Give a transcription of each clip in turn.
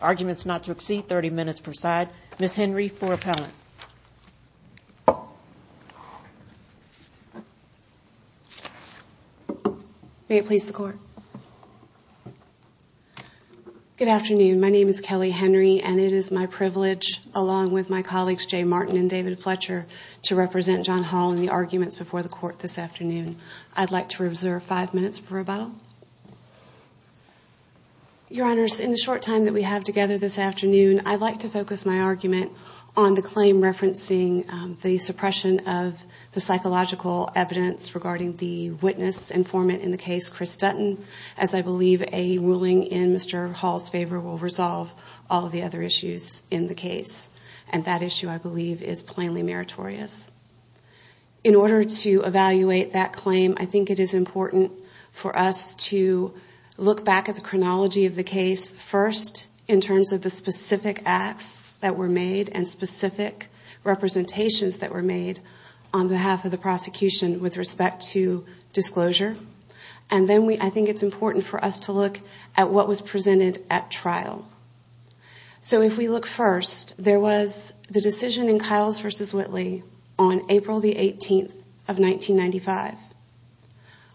Arguments not to exceed 30 minutes per side. Ms. Henry for appellate. May it please the court. Good afternoon. My name is Kelly Henry and it is my privilege along with my colleagues Jay Martin and David Fletcher to represent John Hall in the arguments before the court this afternoon. I'd like to reserve five minutes for rebuttal. Your honors, in the short time that we have together this afternoon, I'd like to focus my argument on the claim referencing the suppression of the psychological evidence regarding the witness informant in the case, Chris Dutton. As I believe a ruling in Mr. Hall's favor will resolve all of the other issues in the case. And that issue I believe is plainly meritorious. In order to evaluate that claim, I think it is important for us to look back at the chronology of the case first in terms of the specific acts that were made and specific representations that were made on behalf of the prosecution with respect to disclosure. And then I think it's important for us to look at what was presented at trial. So if we look first, there was the decision in Kyle's versus Whitley on April the 18th of 1995.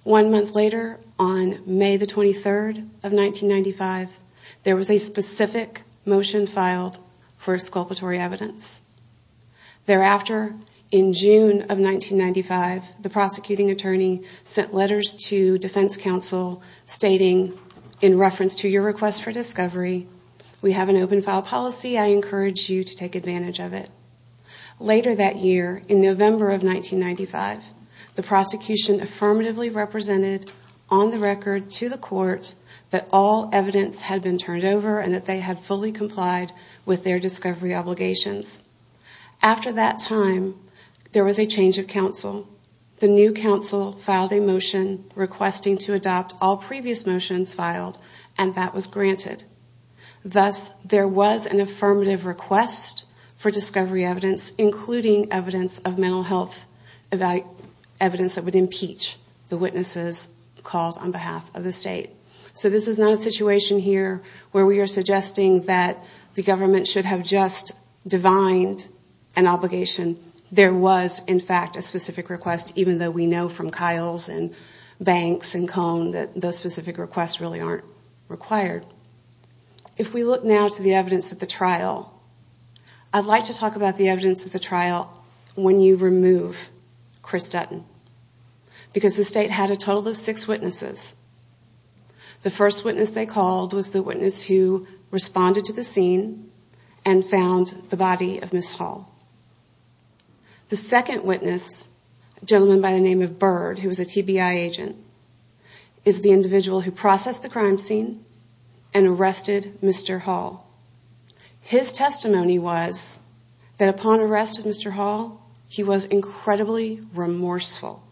One month later, on May the 23rd of 1995, there was a specific motion filed for exculpatory evidence. Thereafter, in June of 1995, the prosecuting attorney sent letters to defense counsel stating, in reference to your request for discovery, we have an open file policy. I encourage you to take advantage of it. Later that year, in November of 1995, the prosecution affirmatively represented on the record to the court that all evidence had been turned over and that they had fully complied with their discovery obligations. After that time, there was a change of counsel. The new counsel filed a motion requesting to adopt all previous motions filed, and that was granted. Thus, there was an affirmative request for discovery evidence, including evidence of mental health, evidence that would impeach the witnesses called on behalf of the state. So this is not a situation here where we are suggesting that the government should have just divined an obligation. There was, in fact, a specific request, even though we know from Kyle's and Banks and Cone that those specific requests really aren't required. If we look now to the evidence at the trial, I'd like to talk about the evidence at the trial when you remove Chris Dutton, because the state had a total of six witnesses. The first witness they called was the witness who responded to the scene and found the body of Ms. Hall. The second witness, a gentleman by the name of Bird, who was a TBI agent, is the individual who processed the crime scene and arrested Mr. Hall. His testimony was that upon arrest of Mr. Hall, he was incredibly remorseful,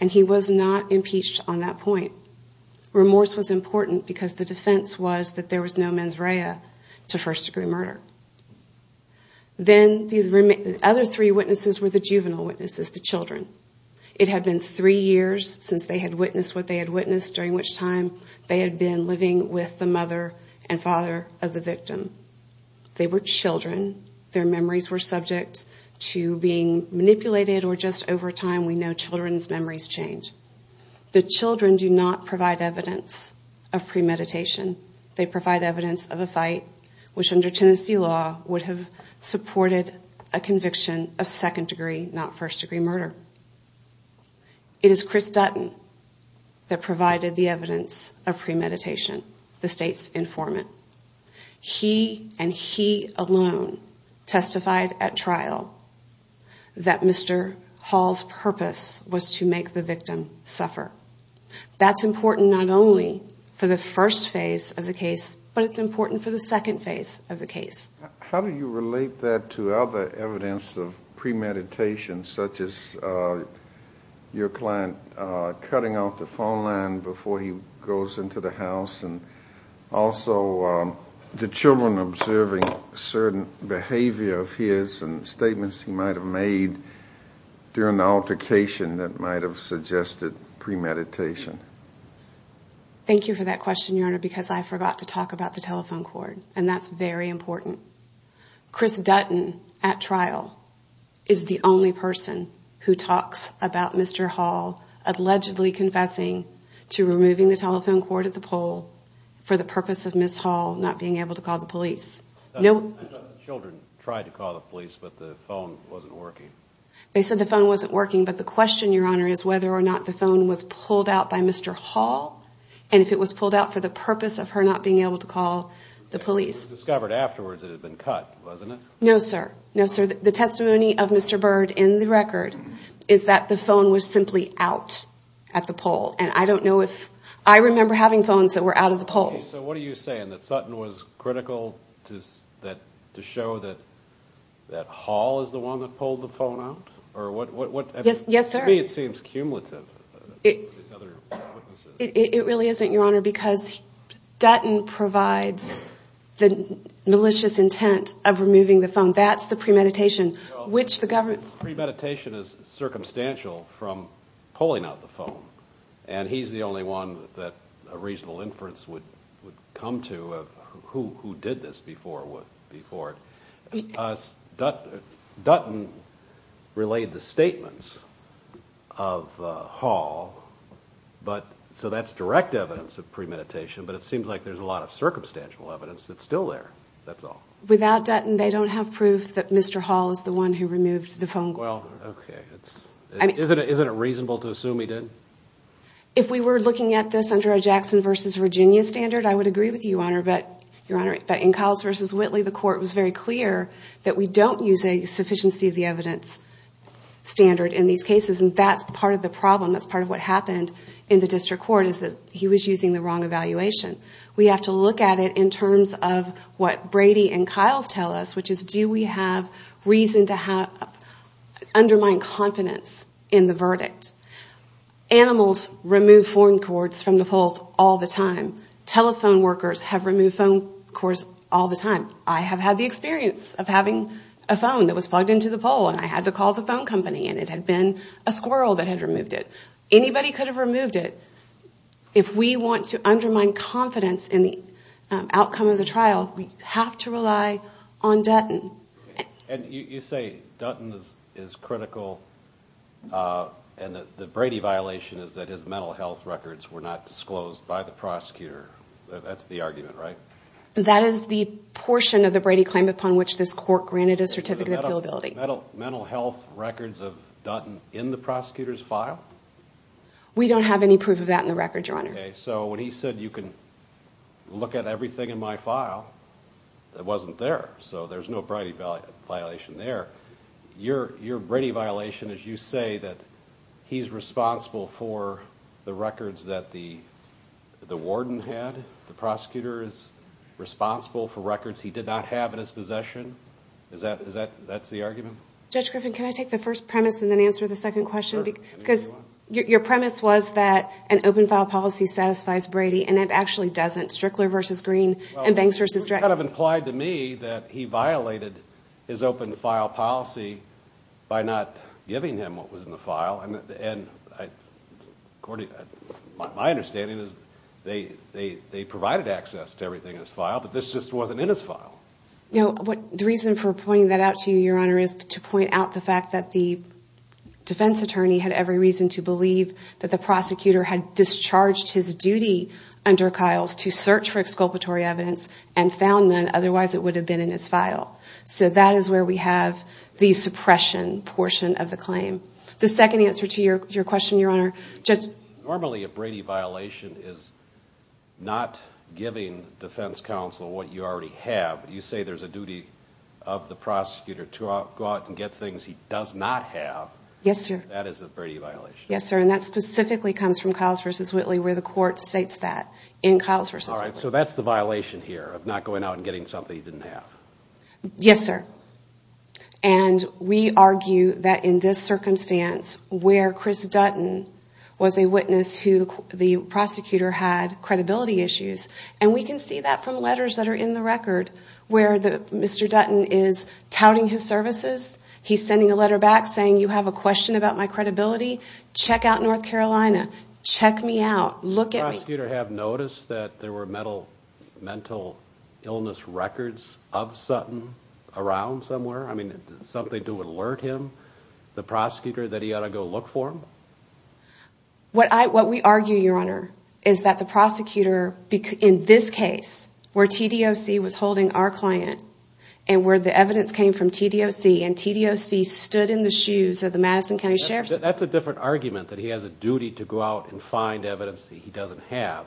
and he was not impeached on that point. Remorse was important because the defense was that there was no mens rea to first-degree murder. Then the other three witnesses were the juvenile witnesses, the children. It had been three years since they had witnessed what they had witnessed, during which time they had been living with the mother and father of the victim. They were children. Their memories were subject to being manipulated, or just over time we know children's memories change. The children do not provide evidence of premeditation. They provide evidence of a fight which under Tennessee law would have supported a conviction of second-degree, not first-degree murder. It is Chris Dutton that provided the evidence of premeditation. The state's informant. He and he alone testified at trial that Mr. Hall's purpose was to make the victim suffer. That's important not only for the first phase of the case, but it's important for the second phase of the case. How do you relate that to other evidence of premeditation, such as your client cutting off the phone line before he goes into the house, and also the children observing certain behavior of his and statements he might have made during the altercation that might have suggested premeditation? Thank you for that question, Your Honor, because I forgot to talk about the telephone cord, and that's very important. Chris Dutton, at trial, is the only person who talks about Mr. Hall allegedly confessing to removing the telephone cord at the pole for the purpose of Ms. Hall not being able to call the police. The children tried to call the police, but the phone wasn't working. They said the phone wasn't working, but the question, Your Honor, is whether or not the phone was pulled out by Mr. Hall, and if it was pulled out for the purpose of her not being able to call the police. It was discovered afterwards that it had been cut, wasn't it? No, sir. No, sir. The testimony of Mr. Byrd in the record is that the phone was simply out at the pole. I remember having phones that were out at the pole. Okay, so what are you saying, that Sutton was critical to show that Hall is the one that pulled the phone out? Yes, sir. To me it seems cumulative. It really isn't, Your Honor, because Dutton provides the malicious intent of removing the phone. That's the premeditation. Premeditation is circumstantial from pulling out the phone, and he's the only one that a reasonable inference would come to of who did this before. Dutton relayed the statements of Hall, so that's direct evidence of premeditation, but it seems like there's a lot of circumstantial evidence that's still there, that's all. Without Dutton, they don't have proof that Mr. Hall is the one who removed the phone. Isn't it reasonable to assume he did? If we were looking at this under a Jackson v. Virginia standard, I would agree with you, Your Honor, but in Cowles v. Whitley, the court was very clear that we don't use a sufficiency of the evidence standard in these cases, and that's part of the problem. That's part of what happened in the district court, is that he was using the wrong evaluation. We have to look at it in terms of what Brady and Cowles tell us, which is, do we have reason to undermine confidence in the verdict? Animals remove phone cords from the poles all the time. Telephone workers have removed phone cords all the time. I have had the experience of having a phone that was plugged into the pole, and I had to call the phone company, and it had been a squirrel that had removed it. Anybody could have removed it. If we want to undermine confidence in the outcome of the trial, we have to rely on Dutton. You say Dutton is critical, and the Brady violation is that his mental health records were not disclosed by the prosecutor. That's the argument, right? That is the portion of the Brady claim upon which this court granted a certificate of billability. Mental health records of Dutton in the prosecutor's file? We don't have any proof of that in the records, Your Honor. Okay, so when he said you can look at everything in my file, it wasn't there, so there's no Brady violation there. Your Brady violation is you say that he's responsible for the records that the warden had, the prosecutor is responsible for records he did not have in his possession. Is that the argument? Judge Griffin, can I take the first premise and then answer the second question? Because your premise was that an open file policy satisfies Brady, and it actually doesn't. Strickler v. Green and Banks v. Dredd. Well, that kind of implied to me that he violated his open file policy by not giving him what was in the file. My understanding is they provided access to everything in his file, but this just wasn't in his file. The reason for pointing that out to you, Your Honor, is to point out the fact that the defense attorney had every reason to believe that the prosecutor had discharged his duty under Kyle's to search for exculpatory evidence and found none, otherwise it would have been in his file. So that is where we have the suppression portion of the claim. The second answer to your question, Your Honor. Normally a Brady violation is not giving defense counsel what you already have. You say there's a duty of the prosecutor to go out and get things he does not have. That is a Brady violation. Yes, sir. And that specifically comes from Kyle's v. Whitley where the court states that in Kyle's v. Whitley. All right. So that's the violation here of not going out and getting something he didn't have. Yes, sir. And we argue that in this circumstance where Chris Dutton was a witness who the prosecutor had credibility issues, and we can see that from letters that are in the record where Mr. Dutton is touting his services. He's sending a letter back saying you have a question about my credibility. Check out North Carolina. Check me out. Look at me. Does the prosecutor have notice that there were mental illness records of Sutton around somewhere? I mean, something to alert him, the prosecutor, that he ought to go look for him? What we argue, Your Honor, is that the prosecutor in this case where TDOC was holding our client and where the evidence came from TDOC and TDOC stood in the shoes of the Madison County Sheriff's Department. That's a different argument that he has a duty to go out and find evidence that he doesn't have.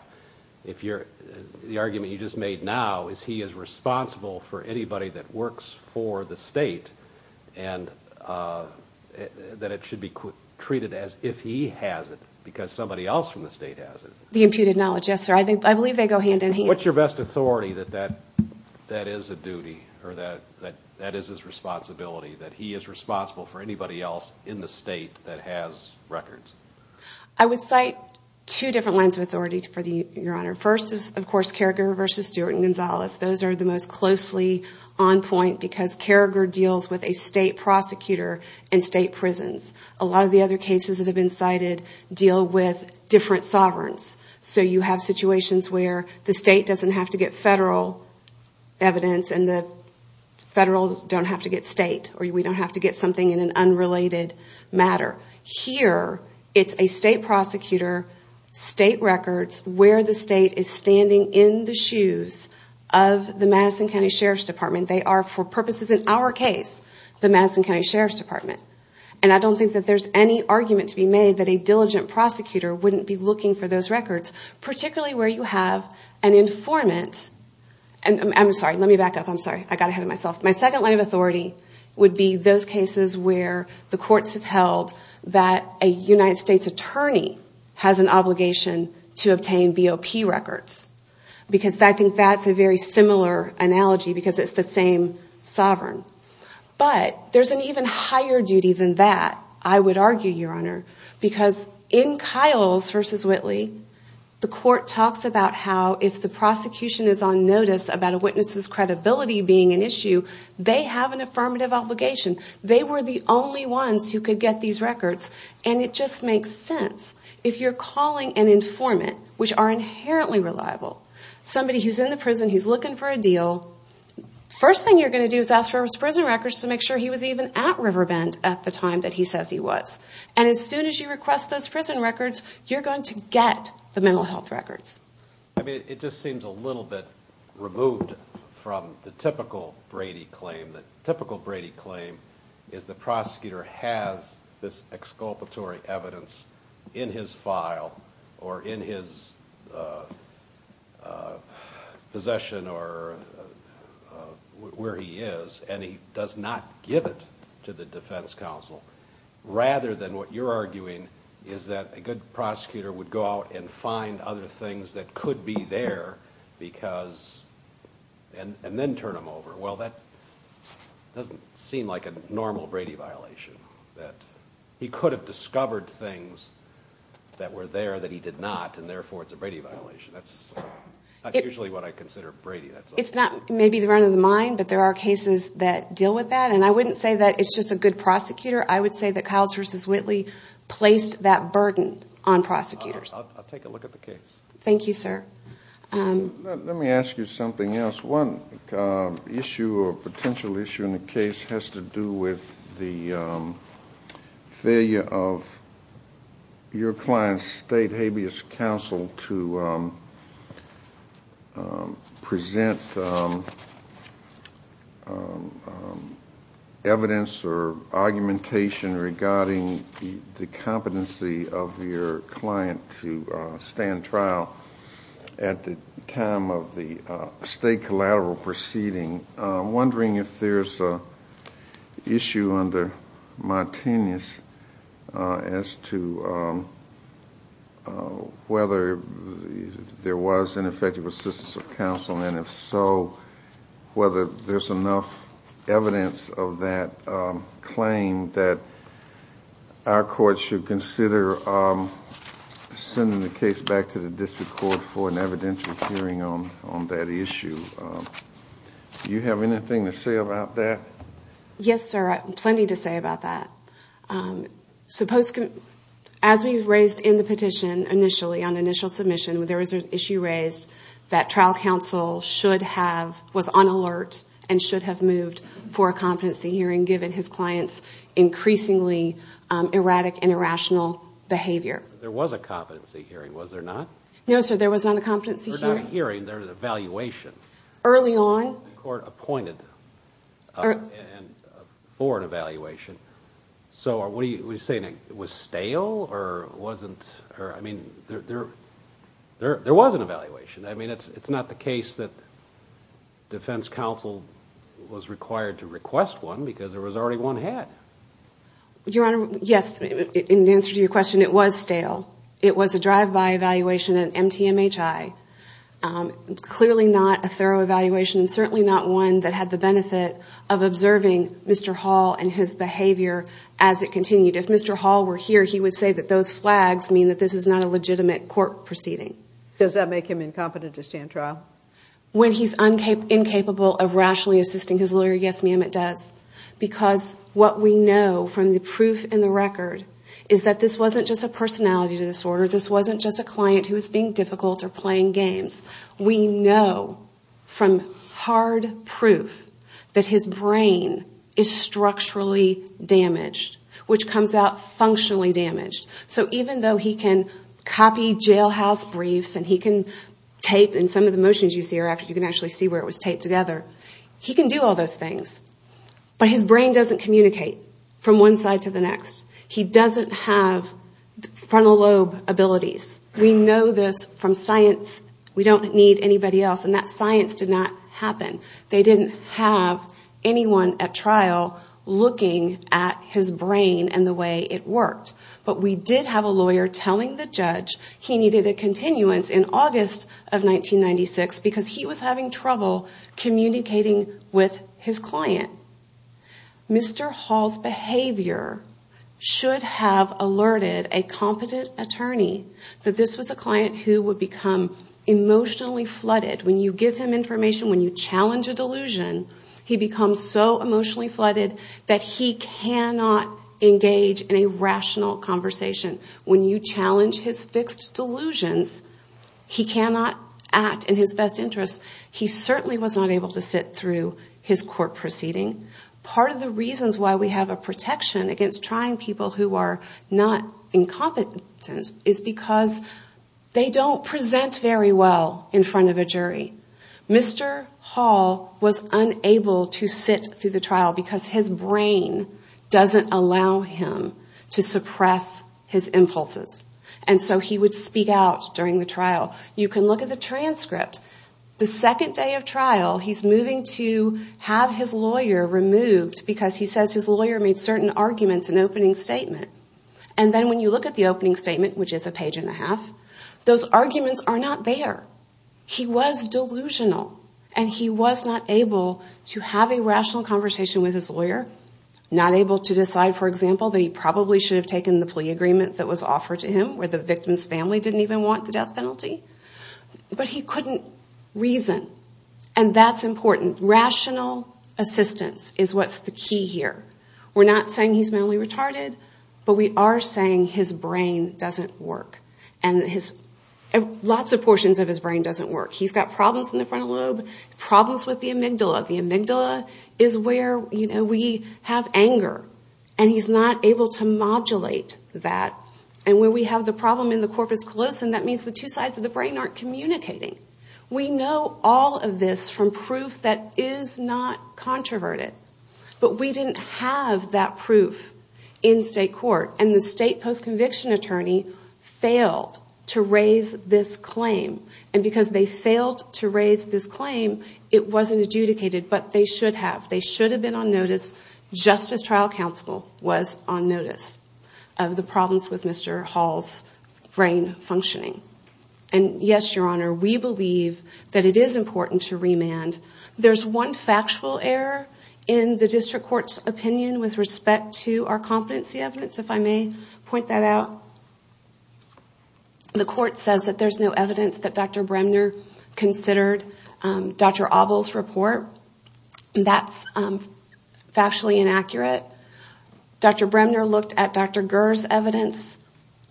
The argument you just made now is he is responsible for anybody that works for the state and that it should be treated as if he has it because somebody else from the state has it. The imputed knowledge, yes, sir. I believe they go hand in hand. What's your best authority that that is a duty or that is his responsibility, that he is responsible for anybody else in the state that has records? I would cite two different lines of authority for you, Your Honor. First is, of course, Carragher v. Stewart and Gonzalez. Those are the most closely on point because Carragher deals with a state prosecutor and state prisons. A lot of the other cases that have been cited deal with different sovereigns. So you have situations where the state has a duty to go out and find evidence that he doesn't have. The state doesn't have to get federal evidence and the federal don't have to get state or we don't have to get something in an unrelated matter. Here, it's a state prosecutor, state records, where the state is standing in the shoes of the Madison County Sheriff's Department. They are, for purposes in our case, the Madison County Sheriff's Department. And I don't think that there's any argument to be made that a diligent prosecutor wouldn't be looking for those records, particularly where you have an informed state prosecutor. My second line of authority would be those cases where the courts have held that a United States attorney has an obligation to obtain BOP records. Because I think that's a very similar analogy because it's the same sovereign. But there's an even higher duty than that, I would argue, Your Honor, because in Kiles v. Whitley, the court talks about how if the prosecutor has a duty to go out and find evidence that he doesn't have. If the prosecution is on notice about a witness's credibility being an issue, they have an affirmative obligation. They were the only ones who could get these records. And it just makes sense. If you're calling an informant, which are inherently reliable, somebody who's in the prison, who's looking for a deal, first thing you're going to do is ask for his prison records to make sure he was even at Riverbend at the time that he says he was. And as soon as you request those prison records, you're going to get the mental health records. I mean, it just seems a little bit removed from the typical Brady claim. The typical Brady claim is the prosecutor has this exculpatory evidence in his file or in his possession or where he is, and he does not give it to the defense counsel. Rather than what you're arguing is that a good prosecutor would go out and find other things that could be there and then turn them over. Well, that doesn't seem like a normal Brady violation. He could have discovered things that were there that he did not, and therefore it's a Brady violation. That's not usually what I consider Brady. It's not maybe the run of the mine, but there are cases that deal with that, and I wouldn't say that it's just a good prosecutor. I would say that Kyles v. Whitley placed that burden on prosecutors. I'll take a look at the case. Thank you, sir. Let me ask you something else. One issue or potential issue in the case has to do with the failure of your client's state habeas counsel to present evidence that the case is a Brady violation. You didn't present evidence or argumentation regarding the competency of your client to stand trial at the time of the state collateral proceeding. I'm wondering if there's an issue under my tenuous as to whether there was an effective assistance of counsel and if so, if so, how did that happen? And if so, whether there's enough evidence of that claim that our court should consider sending the case back to the district court for an evidential hearing on that issue. Do you have anything to say about that? Yes, sir. I have plenty to say about that. As we raised in the petition initially, on initial submission, there was an issue raised that trial counsel should have the ability to have, was on alert, and should have moved for a competency hearing given his client's increasingly erratic and irrational behavior. There was a competency hearing, was there not? No, sir. There was not a competency hearing. There was not a hearing. There was an evaluation. Early on? The court appointed for an evaluation. So what are you saying, it was stale or wasn't, I mean, there was an evaluation. I mean, it's not the case that defense counsel was required to request one because there was already one had. Your Honor, yes, in answer to your question, it was stale. It was a drive-by evaluation, an MTMHI. Clearly not a thorough evaluation and certainly not one that had the benefit of observing Mr. Hall and his behavior as it continued. If Mr. Hall were here, he would say that those flags mean that this is not a legitimate court proceeding. Does that make him incompetent to stand trial? When he's incapable of rationally assisting his lawyer, yes, ma'am, it does. Because what we know from the proof in the record is that this wasn't just a personality disorder. This wasn't just a client who was being difficult or playing games. We know from hard proof that his brain is structurally damaged, which comes out functionally damaged. So even though he can copy jailhouse briefs and he can tape and some of the motions you see are after you can actually see where it was taped together. He can do all those things, but his brain doesn't communicate from one side to the next. He doesn't have frontal lobe abilities. We know this from science. We don't need anybody else. And that science did not happen. They didn't have anyone at trial looking at his brain and the way it worked. But we did have a lawyer telling the judge he needed a continuance in August of 1996 because he was having trouble communicating with his client. Mr. Hall's behavior should have alerted a competent attorney that this was a client who would become emotionally flooded. When you give him information, when you challenge a delusion, he becomes so emotionally flooded that he cannot engage in a rational conversation. When you challenge his fixed delusions, he cannot act in his best interest. He certainly was not able to sit through his court proceeding. Part of the reasons why we have a protection against trying people who are not incompetent is because they don't present very well in front of a jury. Mr. Hall was unable to sit through the trial because his brain doesn't allow him to suppress his emotions. And so he would speak out during the trial. You can look at the transcript. The second day of trial, he's moving to have his lawyer removed because he says his lawyer made certain arguments in the opening statement. And then when you look at the opening statement, which is a page and a half, those arguments are not there. He was delusional and he was not able to have a rational conversation with his lawyer. Not able to decide, for example, that he probably should have taken the plea agreement that was offered to him, where the victim's family didn't even want the death penalty. But he couldn't reason. And that's important. Rational assistance is what's the key here. We're not saying he's mentally retarded, but we are saying his brain doesn't work. Lots of portions of his brain doesn't work. He's got problems in the frontal lobe, problems with the amygdala. The amygdala is where we have anger, and he's not able to modulate that. And when we have the problem in the corpus callosum, that means the two sides of the brain aren't communicating. We know all of this from proof that is not controverted. But we didn't have that proof in state court. And the state post-conviction attorney failed to raise this claim. And because they failed to raise this claim, it wasn't adjudicated, but they should have. They should have been on notice just as trial counsel was on notice of the problems with Mr. Hall's brain functioning. And yes, Your Honor, we believe that it is important to remand. There's one factual error in the district court's opinion with respect to our competency evidence, if I may say so. If I may point that out. The court says that there's no evidence that Dr. Bremner considered Dr. Abel's report. That's factually inaccurate. Dr. Bremner looked at Dr. Gurr's evidence.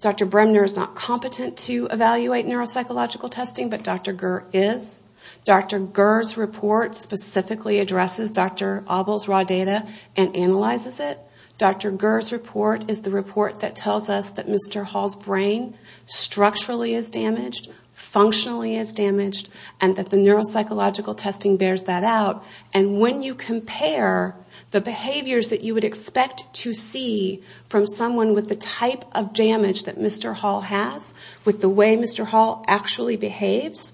Dr. Bremner is not competent to evaluate neuropsychological testing, but Dr. Gurr is. Dr. Gurr's report specifically addresses Dr. Abel's raw data and analyzes it. Dr. Gurr's report is the report that tells us that Mr. Hall's brain structurally is damaged, functionally is damaged, and that the neuropsychological testing bears that out. And when you compare the behaviors that you would expect to see from someone with the type of damage that Mr. Hall has, with the way Mr. Hall actually behaves,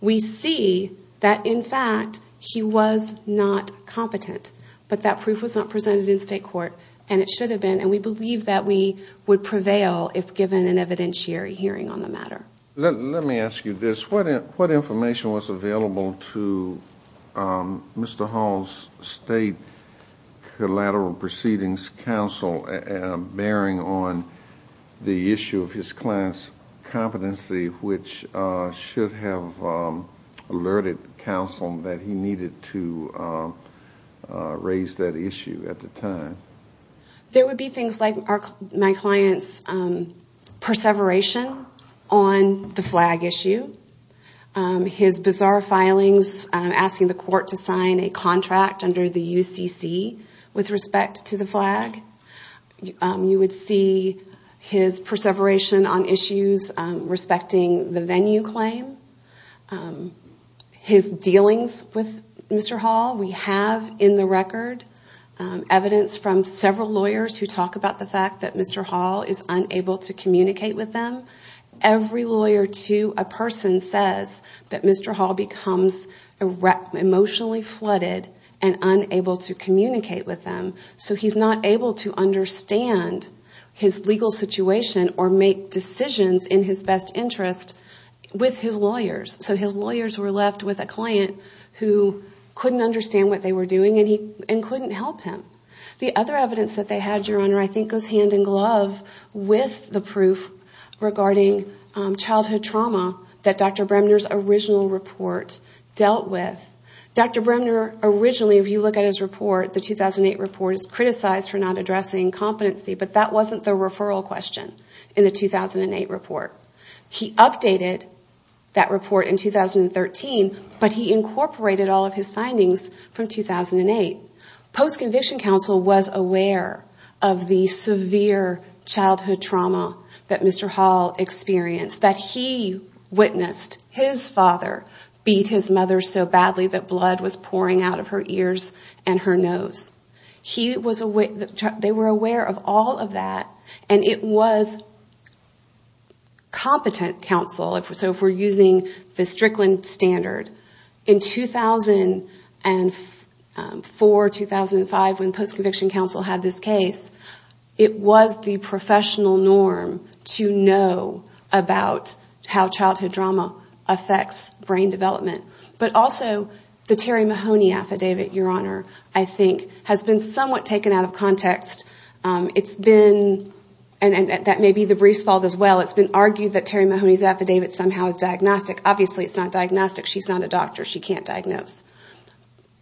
we see that, in fact, he was not competent. But that proof was not presented in state court, and it should have been. And we believe that we would prevail if given an evidentiary hearing on the matter. Let me ask you this. What information was available to Mr. Hall's state collateral proceedings counsel, bearing on the issue of his client's competency, which should have alerted counsel that he needed to raise that issue at the time? There would be things like my client's perseveration on the flag issue, his bizarre filings, asking the court to sign a contract under the UCC with respect to the flag, you would see his perseveration on issues respecting the venue claim, his dealings with Mr. Hall. We have in the record evidence from several lawyers who talk about the fact that Mr. Hall is unable to communicate with them. Every lawyer to a person says that Mr. Hall becomes emotionally flooded and unable to communicate with them, so he's not able to understand his legal situation or make decisions in his best interest with his lawyers. So his lawyers were left with a client who couldn't understand what they were doing and couldn't help him. The other evidence that they had, Your Honor, I think goes hand in glove with the proof regarding childhood trauma that Dr. Bremner's original report dealt with. Dr. Bremner, originally, if you look at his report, the 2008 report is criticized for not addressing competency, but that wasn't the referral question in the 2008 report. He updated that report in 2013, but he incorporated all of his findings from 2008. Post-conviction counsel was aware of the severe childhood trauma that Mr. Hall experienced, that he witnessed his father beat his mother so badly that blood was pouring out of her ears and her nose. They were aware of all of that, and it was competent counsel. So if we're using the Strickland standard, in 2004, 2005, when post-conviction counsel had this case, it was the professional norm to know about how childhood trauma affects brain development. But also, the Terry Mahoney affidavit, Your Honor, I think has been somewhat taken out of context. It's been, and that may be the brief's fault as well, it's been argued that Terry Mahoney's affidavit somehow is diagnostic. Obviously it's not diagnostic. She's not a doctor. She can't diagnose.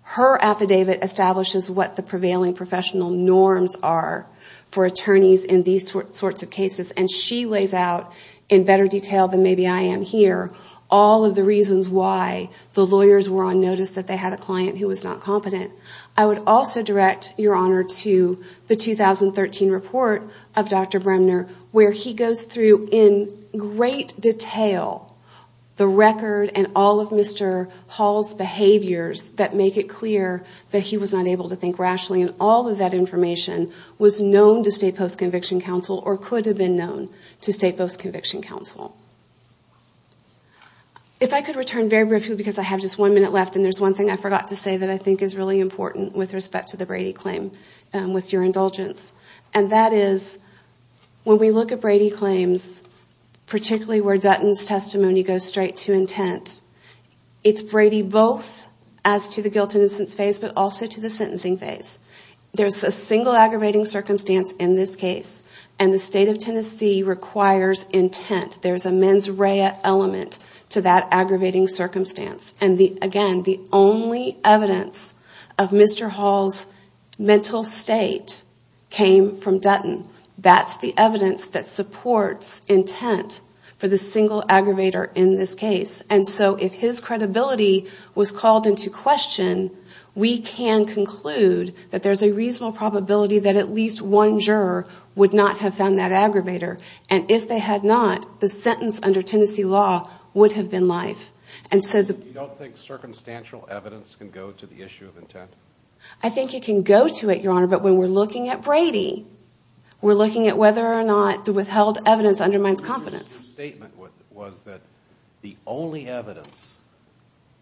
Her affidavit establishes what the prevailing professional norms are for attorneys in these sorts of cases, and she lays out in better detail than maybe I am here all of the reasons why the lawyers were on notice that they had a client who was not competent. I would also direct Your Honor to the 2013 report of Dr. Bremner, where he goes through in great detail the record and all of Mr. Hall's behaviors that make it clear that he was not able to think rationally, and all of that information was known to state post-conviction counsel or could have been known to state post-conviction counsel. If I could return very briefly, because I have just one minute left, and there's one thing I forgot to say that I think is really important with respect to the Brady claim, with your indulgence, and that is when we look at Brady claims, particularly where Dutton's testimony goes straight to intent, it's Brady both as to the guilt and innocence phase, but also to the sentencing phase. There's a single aggravating circumstance in this case, and the state of Tennessee requires intent. There's a mens rea element to that aggravating circumstance, and again, the only evidence of Mr. Hall's mental state came from Dutton. That's the evidence that supports intent for the single aggravator in this case, and so if his credibility was called into question, we can conclude that there's a reasonable probability that at least one juror would not have found that aggravator, and if they had not, the sentence under Tennessee law would have been life. You don't think circumstantial evidence can go to the issue of intent? I think it can go to it, Your Honor, but when we're looking at Brady, we're looking at whether or not the withheld evidence undermines confidence. Your statement was that the only evidence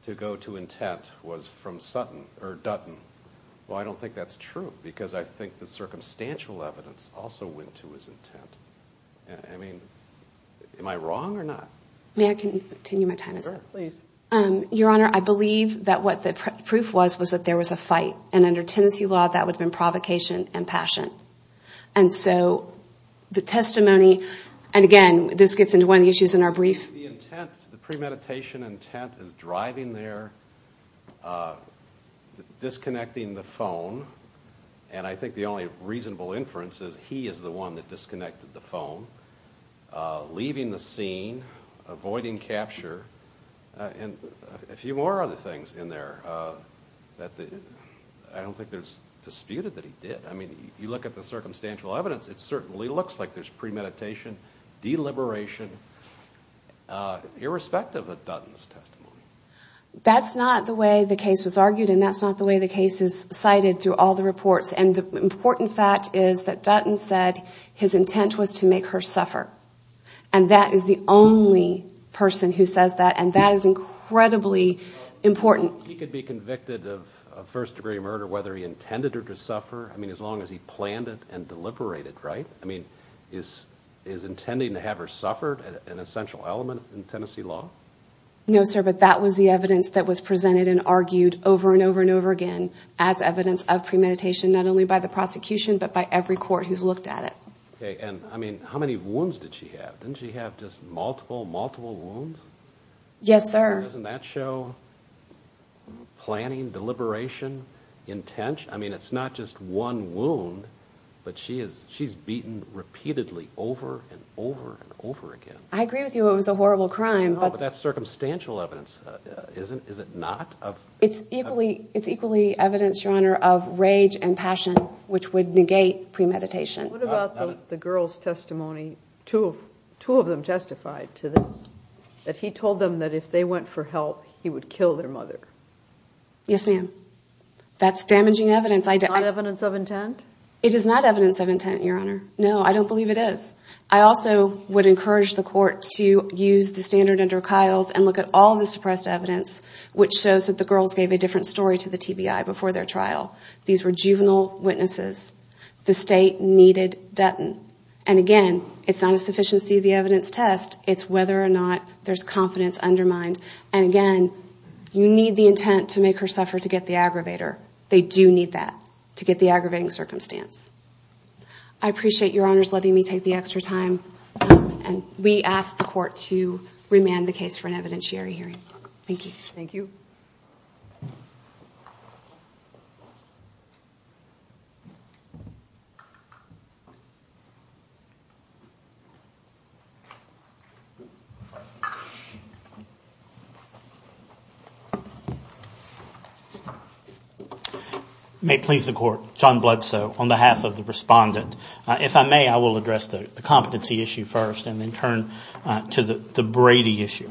to go to intent was from Dutton. Well, I don't think that's true, because I think the circumstantial evidence also went to his intent. I mean, am I wrong or not? May I continue my time as well? Your Honor, I believe that what the proof was was that there was a fight, and under Tennessee law, that would have been provocation and passion, and so the testimony, and again, this gets into one of the issues in our brief. The premeditation intent is driving there, disconnecting the phone, and I think the only reasonable inference is he is the one that disconnected the phone, leaving the scene, avoiding capture, and a few more other things in there that I don't think there's disputed that he did. I mean, if you look at the circumstantial evidence, it certainly looks like there's premeditation, deliberation, irrespective of Dutton's testimony. That's not the way the case was argued, and that's not the way the case is cited through all the reports, and the important fact is that Dutton said his intent was to make her suffer, and that is the only person who says that, and that is incredibly important. He could be convicted of first-degree murder, whether he intended her to suffer, I mean, as long as he planned it and deliberated, right? I mean, is intending to have her suffer an essential element in Tennessee law? No, sir, but that was the evidence that was presented and argued over and over and over again as evidence of premeditation, not only by the prosecution, but by every court who's looked at it. Okay, and I mean, how many wounds did she have? Didn't she have just multiple, multiple wounds? Yes, sir. Doesn't that show planning, deliberation, intention? I mean, it's not just one wound, but she's beaten repeatedly over and over and over again. I agree with you, it was a horrible crime. No, but that's circumstantial evidence, is it not? It's equally evidence, Your Honor, of rage and passion, which would negate premeditation. What about the girl's testimony? Two of them testified to this, that he told them that if they went for help, he would kill their mother. Yes, ma'am. That's damaging evidence. It is not evidence of intent, Your Honor. No, I don't believe it is. I also would encourage the court to use the standard under Kyle's and look at all the suppressed evidence, which shows that the girls gave a different story to the TBI before their trial. These were juvenile witnesses. The state needed Dutton. And again, it's not a sufficiency of the evidence test, it's whether or not there's confidence undermined. And again, you need the intent to make her suffer to get the aggravator. They do need that to get the aggravating circumstance. I appreciate Your Honor's letting me take the extra time, and we ask the court to remand the case for an evidentiary hearing. Thank you. May it please the court, John Bledsoe on behalf of the respondent. If I may, I will address the competency issue first, and then turn to the Brady issue.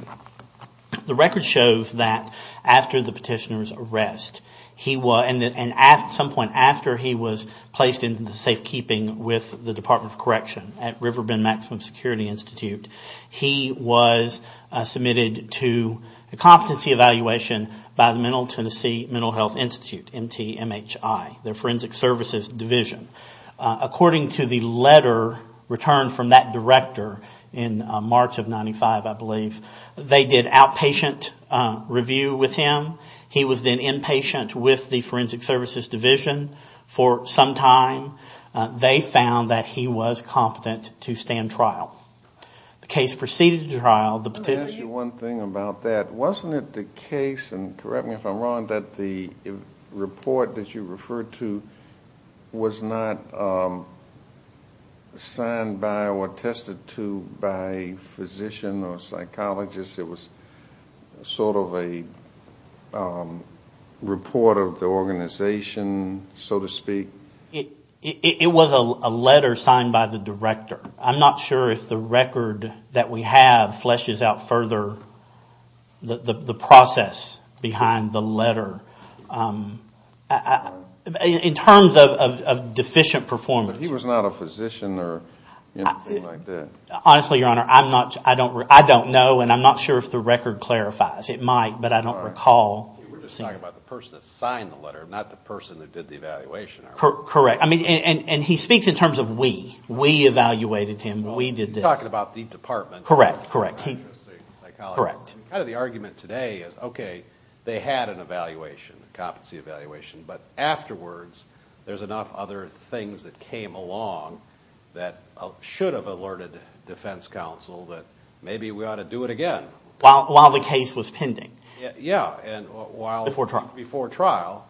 The record shows that after the petitioner's arrest, and at some point after he was placed into safekeeping with the Department of Correction at River Bend Maximum Security Institute, he was submitted to a competency evaluation by the Mental Tennessee Mental Health Institute, MTMHI, the Forensic Services Division. According to the letter returned from that director in March of 95, I believe, they did outpatient review with him. He was then inpatient with the Forensic Services Division for some time. They found that he was competent to stand trial. The case proceeded to trial. Wasn't it the case, and correct me if I'm wrong, that the report that you referred to was not signed by or attested to by a physician or psychologist? It was sort of a report of the organization, so to speak? It was a letter signed by the director. I'm not sure if the record that we have fleshes out further the process behind the letter, in terms of deficient performance. But he was not a physician or anything like that? Honestly, Your Honor, I don't know, and I'm not sure if the record clarifies. It might, but I don't recall. He speaks in terms of we. We evaluated him. We did this. The argument today is, okay, they had an evaluation, a competency evaluation, but afterwards there's enough other things that came along that should have alerted defense counsel that maybe we ought to do it again. While the case was pending. Before trial.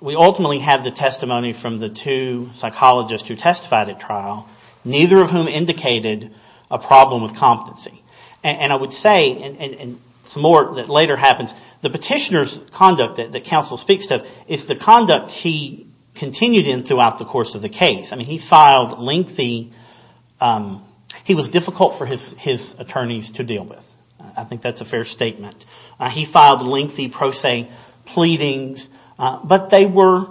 We ultimately have the testimony from the two psychologists who testified at trial, neither of whom indicated a problem with competency. And I would say, and some more that later happens, the petitioner's conduct that counsel speaks to is the conduct he continued in throughout the course of the case. He was difficult for his attorneys to deal with. I think that's a fair statement. He filed lengthy pro se pleadings, but they were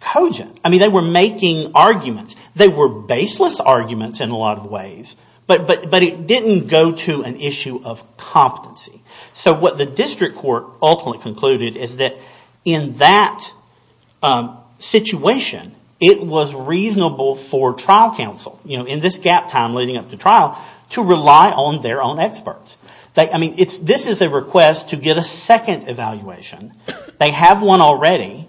cogent. They were making arguments. They were baseless arguments in a lot of ways, but it didn't go to an issue of competency. So what the district court ultimately concluded is that in that situation, it was reasonable for trial counsel, in this gap time leading up to trial, to rely on their own experts. This is a request to get a second evaluation. They have one already,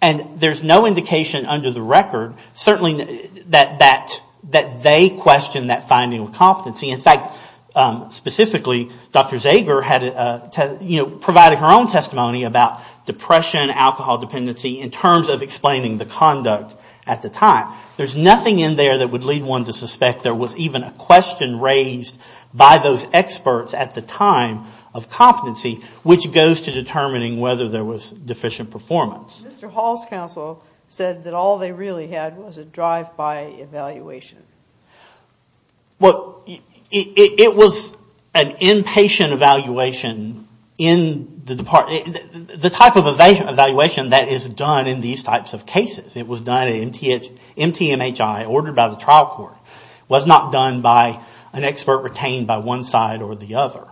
and there's no indication under the record, certainly, that they questioned that finding of competency. In fact, specifically, Dr. Zager provided her own testimony about depression, alcohol dependency, in terms of explaining the conduct at the time. There's nothing in there that would lead one to suspect there was even a question raised by those experts at the time of competency, which goes to determining whether there was deficient performance. Mr. Hall's counsel said that all they really had was a drive-by evaluation. It was an inpatient evaluation in the department. The type of evaluation that is done in these types of cases. It was done at MTMHI, ordered by the trial court. It was not done by an expert retained by one side or the other.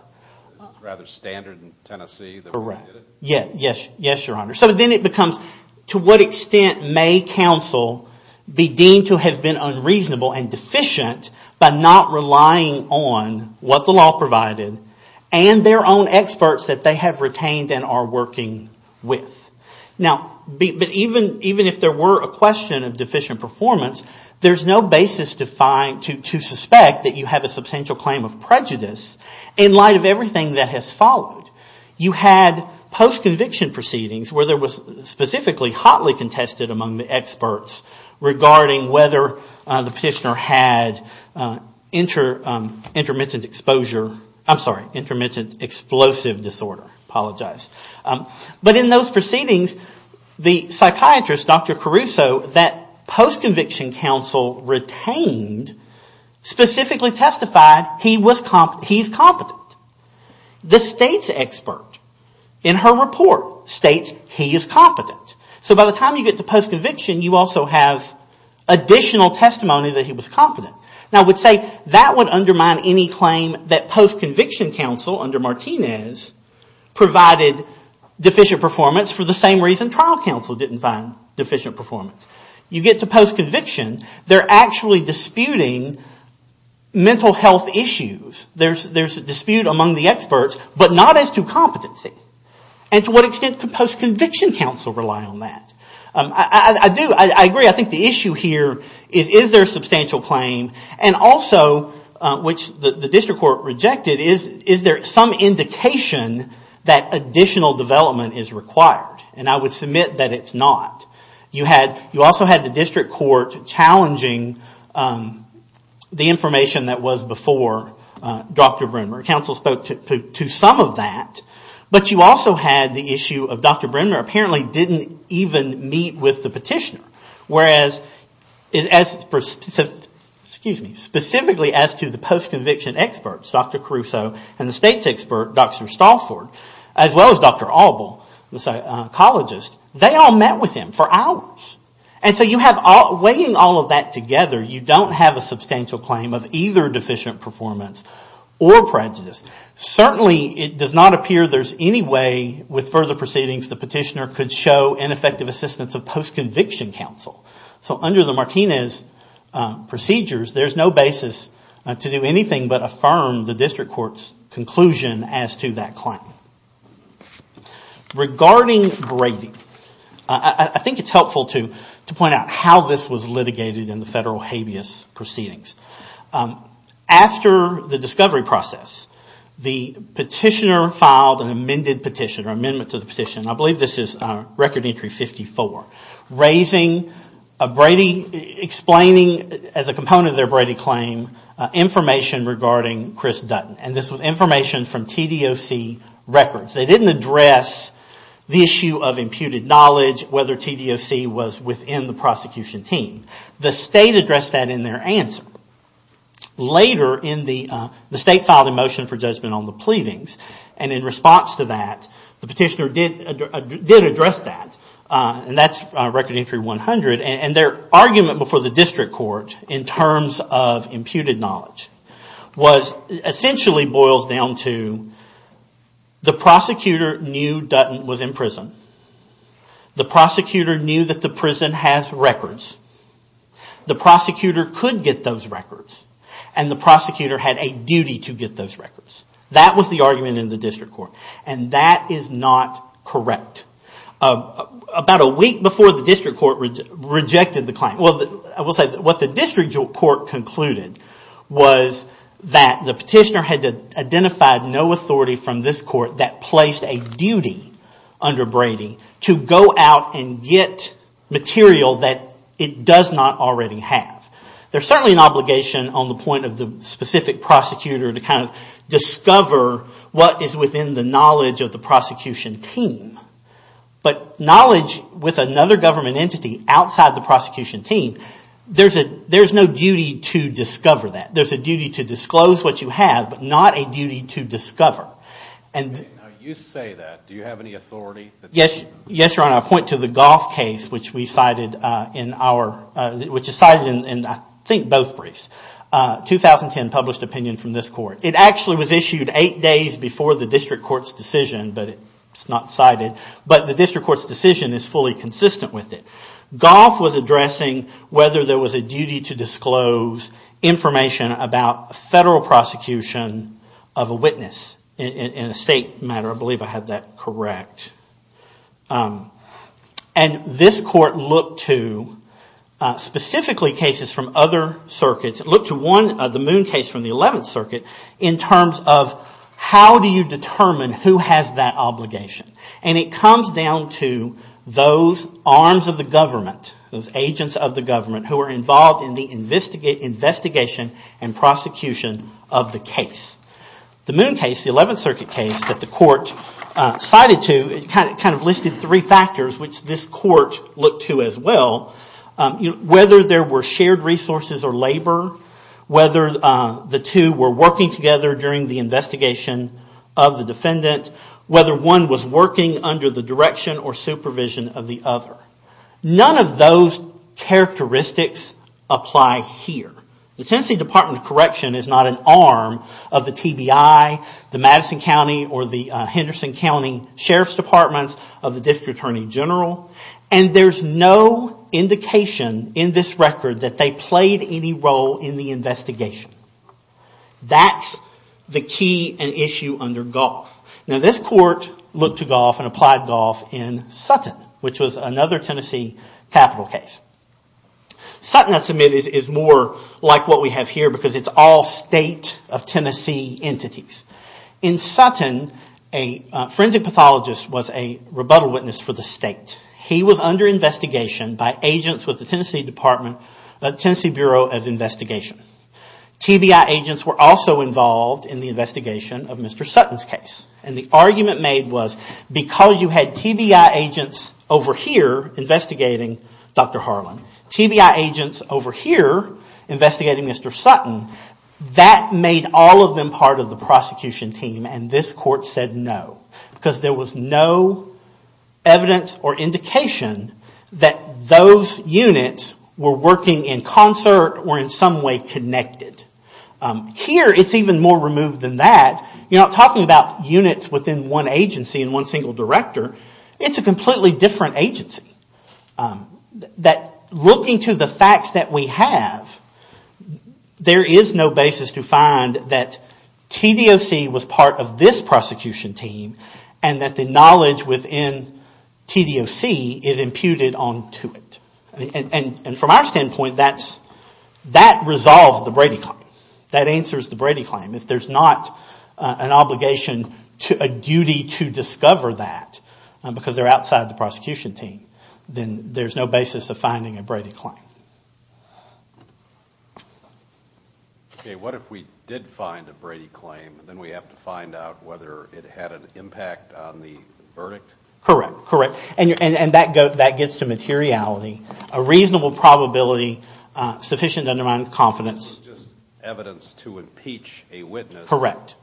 Yes, Your Honor. To what extent may counsel be deemed to have been unreasonable and deficient by not relying on what the law provided and their own experts that they have retained and are working with. Even if there were a question of deficient performance, there's no basis to find, to suspect that you have a substantial claim of prejudice in light of everything that has followed. You had post-conviction proceedings where there was specifically hotly contested among the experts regarding whether the petitioner had intermittent exposure, I'm sorry, intermittent explosive disorder. But in those proceedings, the psychiatrist, Dr. Caruso, that post-conviction counsel retained, specifically testified he's competent. The state's expert in her report states he is competent. So by the time you get to post-conviction, you also have additional testimony that he was competent. Now I would say that would undermine any claim that post-conviction counsel under Martinez provided deficient performance for the same reason trial counsel didn't find deficient performance. You get to post-conviction, they're actually disputing mental health issues. There's a dispute among the experts, but not as to competency. And to what extent could post-conviction counsel rely on that? I do, I agree, I think the issue here is is there a substantial claim? And also, which the district court rejected, is there some indication that additional development is required? And I would submit that it's not. You also had the district court challenging the information that was before Dr. Brynmer. Counsel spoke to some of that. But you also had the issue of Dr. Brynmer apparently didn't even meet with the petitioner. Whereas, specifically as to the post-conviction experts, Dr. Caruso and the state's expert, Dr. Stalford, as well as Dr. Albo, the psychologist, they all met with him for hours. And so weighing all of that together, you don't have a substantial claim of either deficient performance or prejudice. Certainly, it does not appear there's any way with further proceedings the petitioner could show ineffective assistance of post-conviction counsel. So under the Martinez procedures, there's no basis to do anything but affirm the district court's conclusion as to that claim. Regarding grading, I think it's helpful to point out how this was litigated in the federal habeas proceedings. After the discovery process, the petitioner filed an amended petition, or amendment to the petition. I believe this is record entry 54, explaining as a component of their Brady claim information regarding Chris Dutton. And this was information from TDOC records. They didn't address the issue of imputed knowledge, whether TDOC was within the prosecution team. The state addressed that in their answer. Later, the state filed a motion for judgment on the pleadings, and in response to that, the petitioner did address that. And that's record entry 100. And their argument before the district court in terms of imputed knowledge essentially boils down to the prosecutor knew Dutton was in prison. The prosecutor knew that the prison has records. The prosecutor could get those records. And the prosecutor had a duty to get those records. That was the argument in the district court. And that is not correct. About a week before the district court rejected the claim. Well, I will say what the district court concluded was that the petitioner had identified no authority from this court that placed a duty under Brady to go out and get material that it does not already have. There's certainly an obligation on the point of the specific prosecutor to kind of discover what is within the knowledge of the prosecution team. But knowledge with another government entity outside the prosecution team, there's no duty to discover that. There's a duty to disclose what you have, but not a duty to discover. You say that. Do you have any authority? Yes, Your Honor. I point to the Goff case, which is cited in I think both briefs. 2010 published opinion from this court. It actually was issued eight days before the district court's decision, but it's not cited. But the district court's decision is fully consistent with it. Goff was addressing whether there was a duty to disclose information about federal prosecution of a witness in a state matter. I believe I had that correct. And this court looked to specifically cases from other circuits. It looked to one, the Moon case from the 11th Circuit, in terms of how do you determine who has that obligation. And it comes down to those arms of the government, those agents of the government who are involved in the investigation and prosecution of the case. The Moon case, the 11th Circuit case that the court cited to, it kind of listed three factors which this court looked to as well. Whether there were shared resources or labor, whether the two were working together during the investigation of the defendant, whether one was working under the direction or supervision of the other. None of those characteristics apply here. The Tennessee Department of Sheriff's Departments of the District Attorney General. And there's no indication in this record that they played any role in the investigation. That's the key and issue under Goff. Now this court looked to Goff and applied Goff in Sutton, which was another Tennessee capital case. Sutton, I submit, is more like what we have here because it's all state of Tennessee entities. In Sutton, a forensic pathologist was a rebuttal witness for the state. He was under investigation by agents with the Tennessee Department, Tennessee Bureau of Investigation. TBI agents were also involved in the investigation of Mr. Sutton's case. And the argument made was because you had TBI agents over here investigating Dr. Harlan, TBI agents over here investigating Mr. Sutton, that made all of them part of the prosecution team and this court said no. Because there was no evidence or indication that those units were working in concert or in some way connected. Here it's even more removed than that. You're not talking about units within one agency and one single director. It's a completely different agency. Looking to the facts that we have, there is no basis to find that TDOC was part of this prosecution team and that the knowledge within TDOC is imputed onto it. And from our standpoint, that resolves the Brady claim. That answers the Brady claim. If there's not an obligation, a duty to discover that because they're outside the prosecution team, then there's no basis of finding a Brady claim. Okay, what if we did find a Brady claim and then we have to find out whether it had an impact on the verdict? Correct, correct. And that gets to materiality. A reasonable probability, sufficient to undermine confidence. Evidence to impeach a witness. Correct,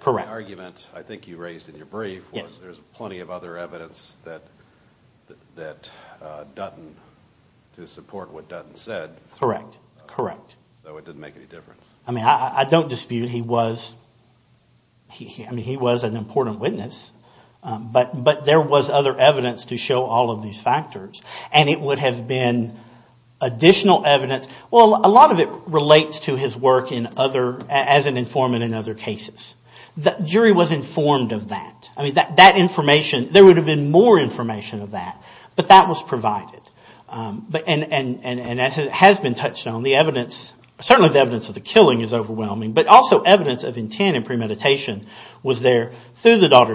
correct. The argument I think you raised in your brief was there's plenty of other evidence that Dutton to support what Dutton said. Correct, correct. So it didn't make any difference. I don't dispute he was an important witness but there was other evidence to show all of these factors. And it would have been additional evidence. Well, a lot of it relates to his work as an informant in other cases. The jury was informed of that. There would have been more information of that, but that was provided. And as it has been touched on, the evidence, certainly the evidence of the killing is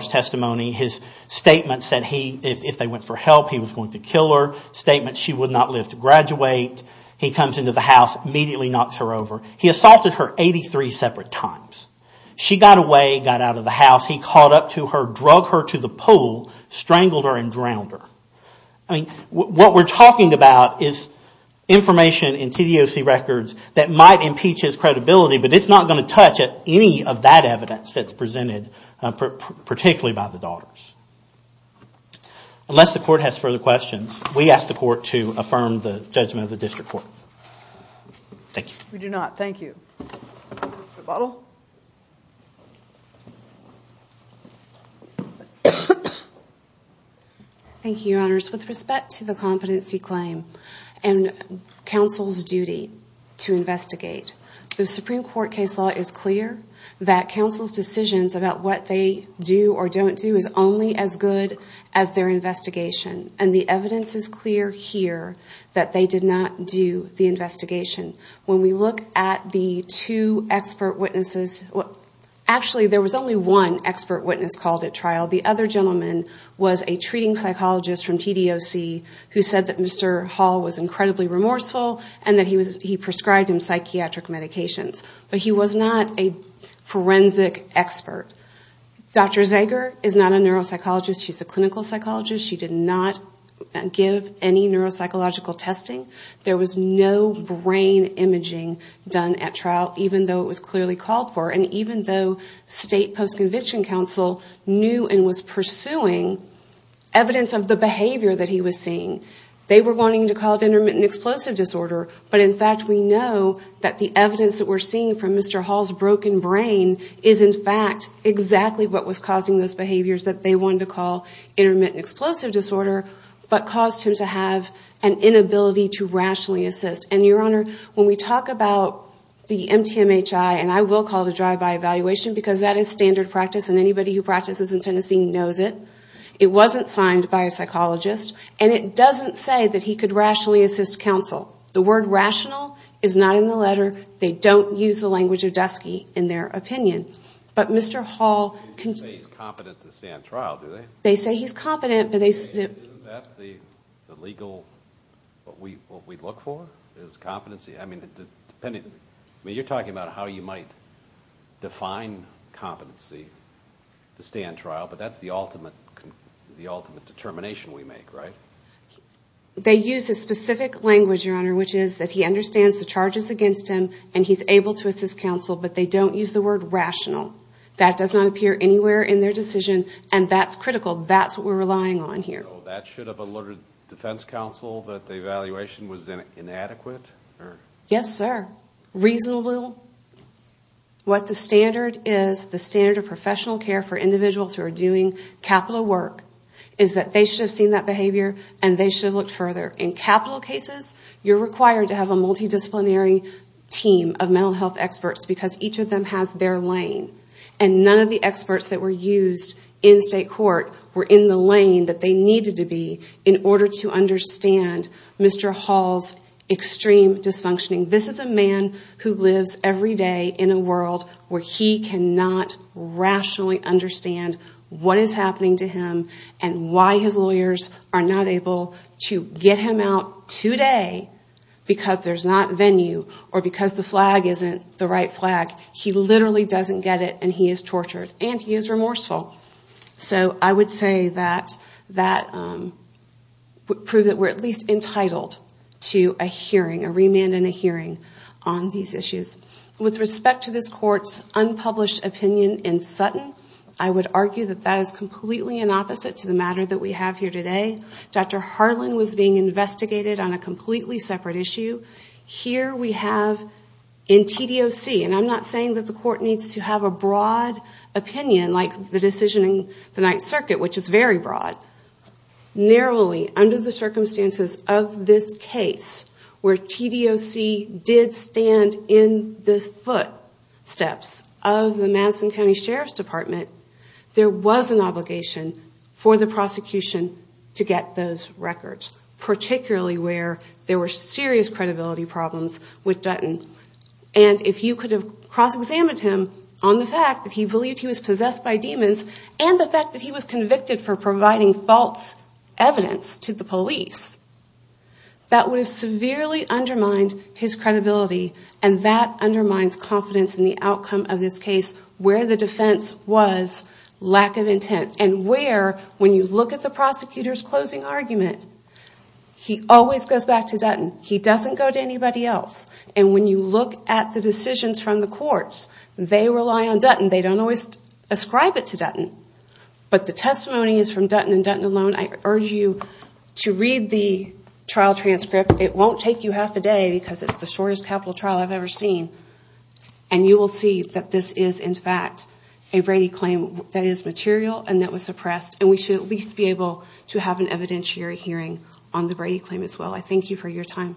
testimony. His statement said if they went for help, he was going to kill her. Statement, she would not live to graduate. He comes into the house, immediately knocks her over. He assaulted her 83 separate times. She got away, got out of the house. He caught up to her, drug her to the pool, strangled her and drowned her. What we're talking about is information in TDOC records that might impeach his credibility but it's not going to touch any of that evidence that's presented, particularly by the Daughters. Unless the Court has further questions, we ask the Court to affirm the judgment of the District Court. Thank you. Thank you, Your Honors. With respect to the competency claim and counsel's duty to investigate, the Supreme Court case law is clear that counsel's decisions about what they do or don't do is only as good as their investigation. And the evidence is clear here that they did not do the investigation. When we look at the two expert witnesses, actually there was only one expert witness called at trial. The other gentleman was a treating psychologist from TDOC who said that Mr. Hall was incredibly remorseful and that he prescribed him psychiatric medications. But he was not a forensic expert. Dr. Zager is not a neuropsychologist. She's a clinical psychologist. She did not give any neuropsychological testing. There was no brain imaging done at trial, even though it was clearly called for. And even though state post-conviction counsel knew and was pursuing evidence of the behavior that he was seeing, they were wanting to call it intermittent explosive disorder. But in fact, we know that the evidence that we're seeing from Mr. Hall's broken brain is in fact exactly what was causing those behaviors that they wanted to call intermittent explosive disorder, but caused him to have an inability to rationally assist. And your Honor, when we talk about the MTMHI, and I will call it a drive-by evaluation because that is standard practice and anybody who practices in Tennessee knows it. It wasn't signed by a psychologist. And it doesn't say that he could rationally assist counsel. The word rational is not in the letter. They don't use the language of Dusky in their opinion. But Mr. Hall... They say he's competent to stand trial, do they? Isn't that the legal, what we look for, is competency? You're talking about how you might define competency to stand trial, but that's the ultimate determination we make, right? They use a specific language, Your Honor, which is that he understands the charges against him and he's able to assist counsel, but they don't use the word rational. That does not appear anywhere in their decision, and that's critical. That's what we're relying on here. So that should have alerted defense counsel that the evaluation was inadequate? Yes, sir. Reasonable. What the standard is, the standard of professional care for individuals who are doing capital work, is that they should have seen that behavior and they should have looked further. In capital cases, you're required to have a multidisciplinary team of mental health experts, because each of them has their lane. And none of the experts that were used in state court were in the lane that they needed to be in order to understand Mr. Hall's extreme dysfunctioning. This is a man who lives every day in a world where he cannot rationally understand what is happening to him and why his lawyers are not able to get him out today because there's not venue or because the flag isn't the right flag. He literally doesn't get it and he is tortured and he is remorseful. So I would say that would prove that we're at least entitled to a hearing, a remand and a hearing on these issues. With respect to this court's unpublished opinion in Sutton, I would argue that that is completely an opposite to the matter that we have here today. Dr. Harlan was being investigated on a completely separate issue. Here we have in TDOC, and I'm not saying that the court needs to have a broad opinion, like the decision in the Ninth Circuit, which is very broad. Narrowly, under the circumstances of this case, where TDOC did stand in the footsteps of the Madison County Sheriff's Department, there was an obligation for the prosecution to get those records, particularly where there were serious credibility problems with Dutton. And if you could have cross-examined him on the fact that he believed he was possessed by demons and the fact that he was convicted for providing false evidence to the police, that would have severely undermined his credibility and that undermines confidence in the outcome of this case, where the defense was lack of intent. And where, when you look at the prosecutor's closing argument, he always goes back to Dutton. He doesn't go to anybody else. And when you look at the decisions from the courts, they rely on Dutton. They don't always ascribe it to Dutton. But the testimony is from Dutton and Dutton alone. I urge you to read the trial transcript. It won't take you half a day because it's the shortest capital trial I've ever seen. And you will see that this is in fact a Brady claim that is material and that was suppressed and we should at least be able to have an evidentiary hearing on the Brady claim as well. I thank you for your time.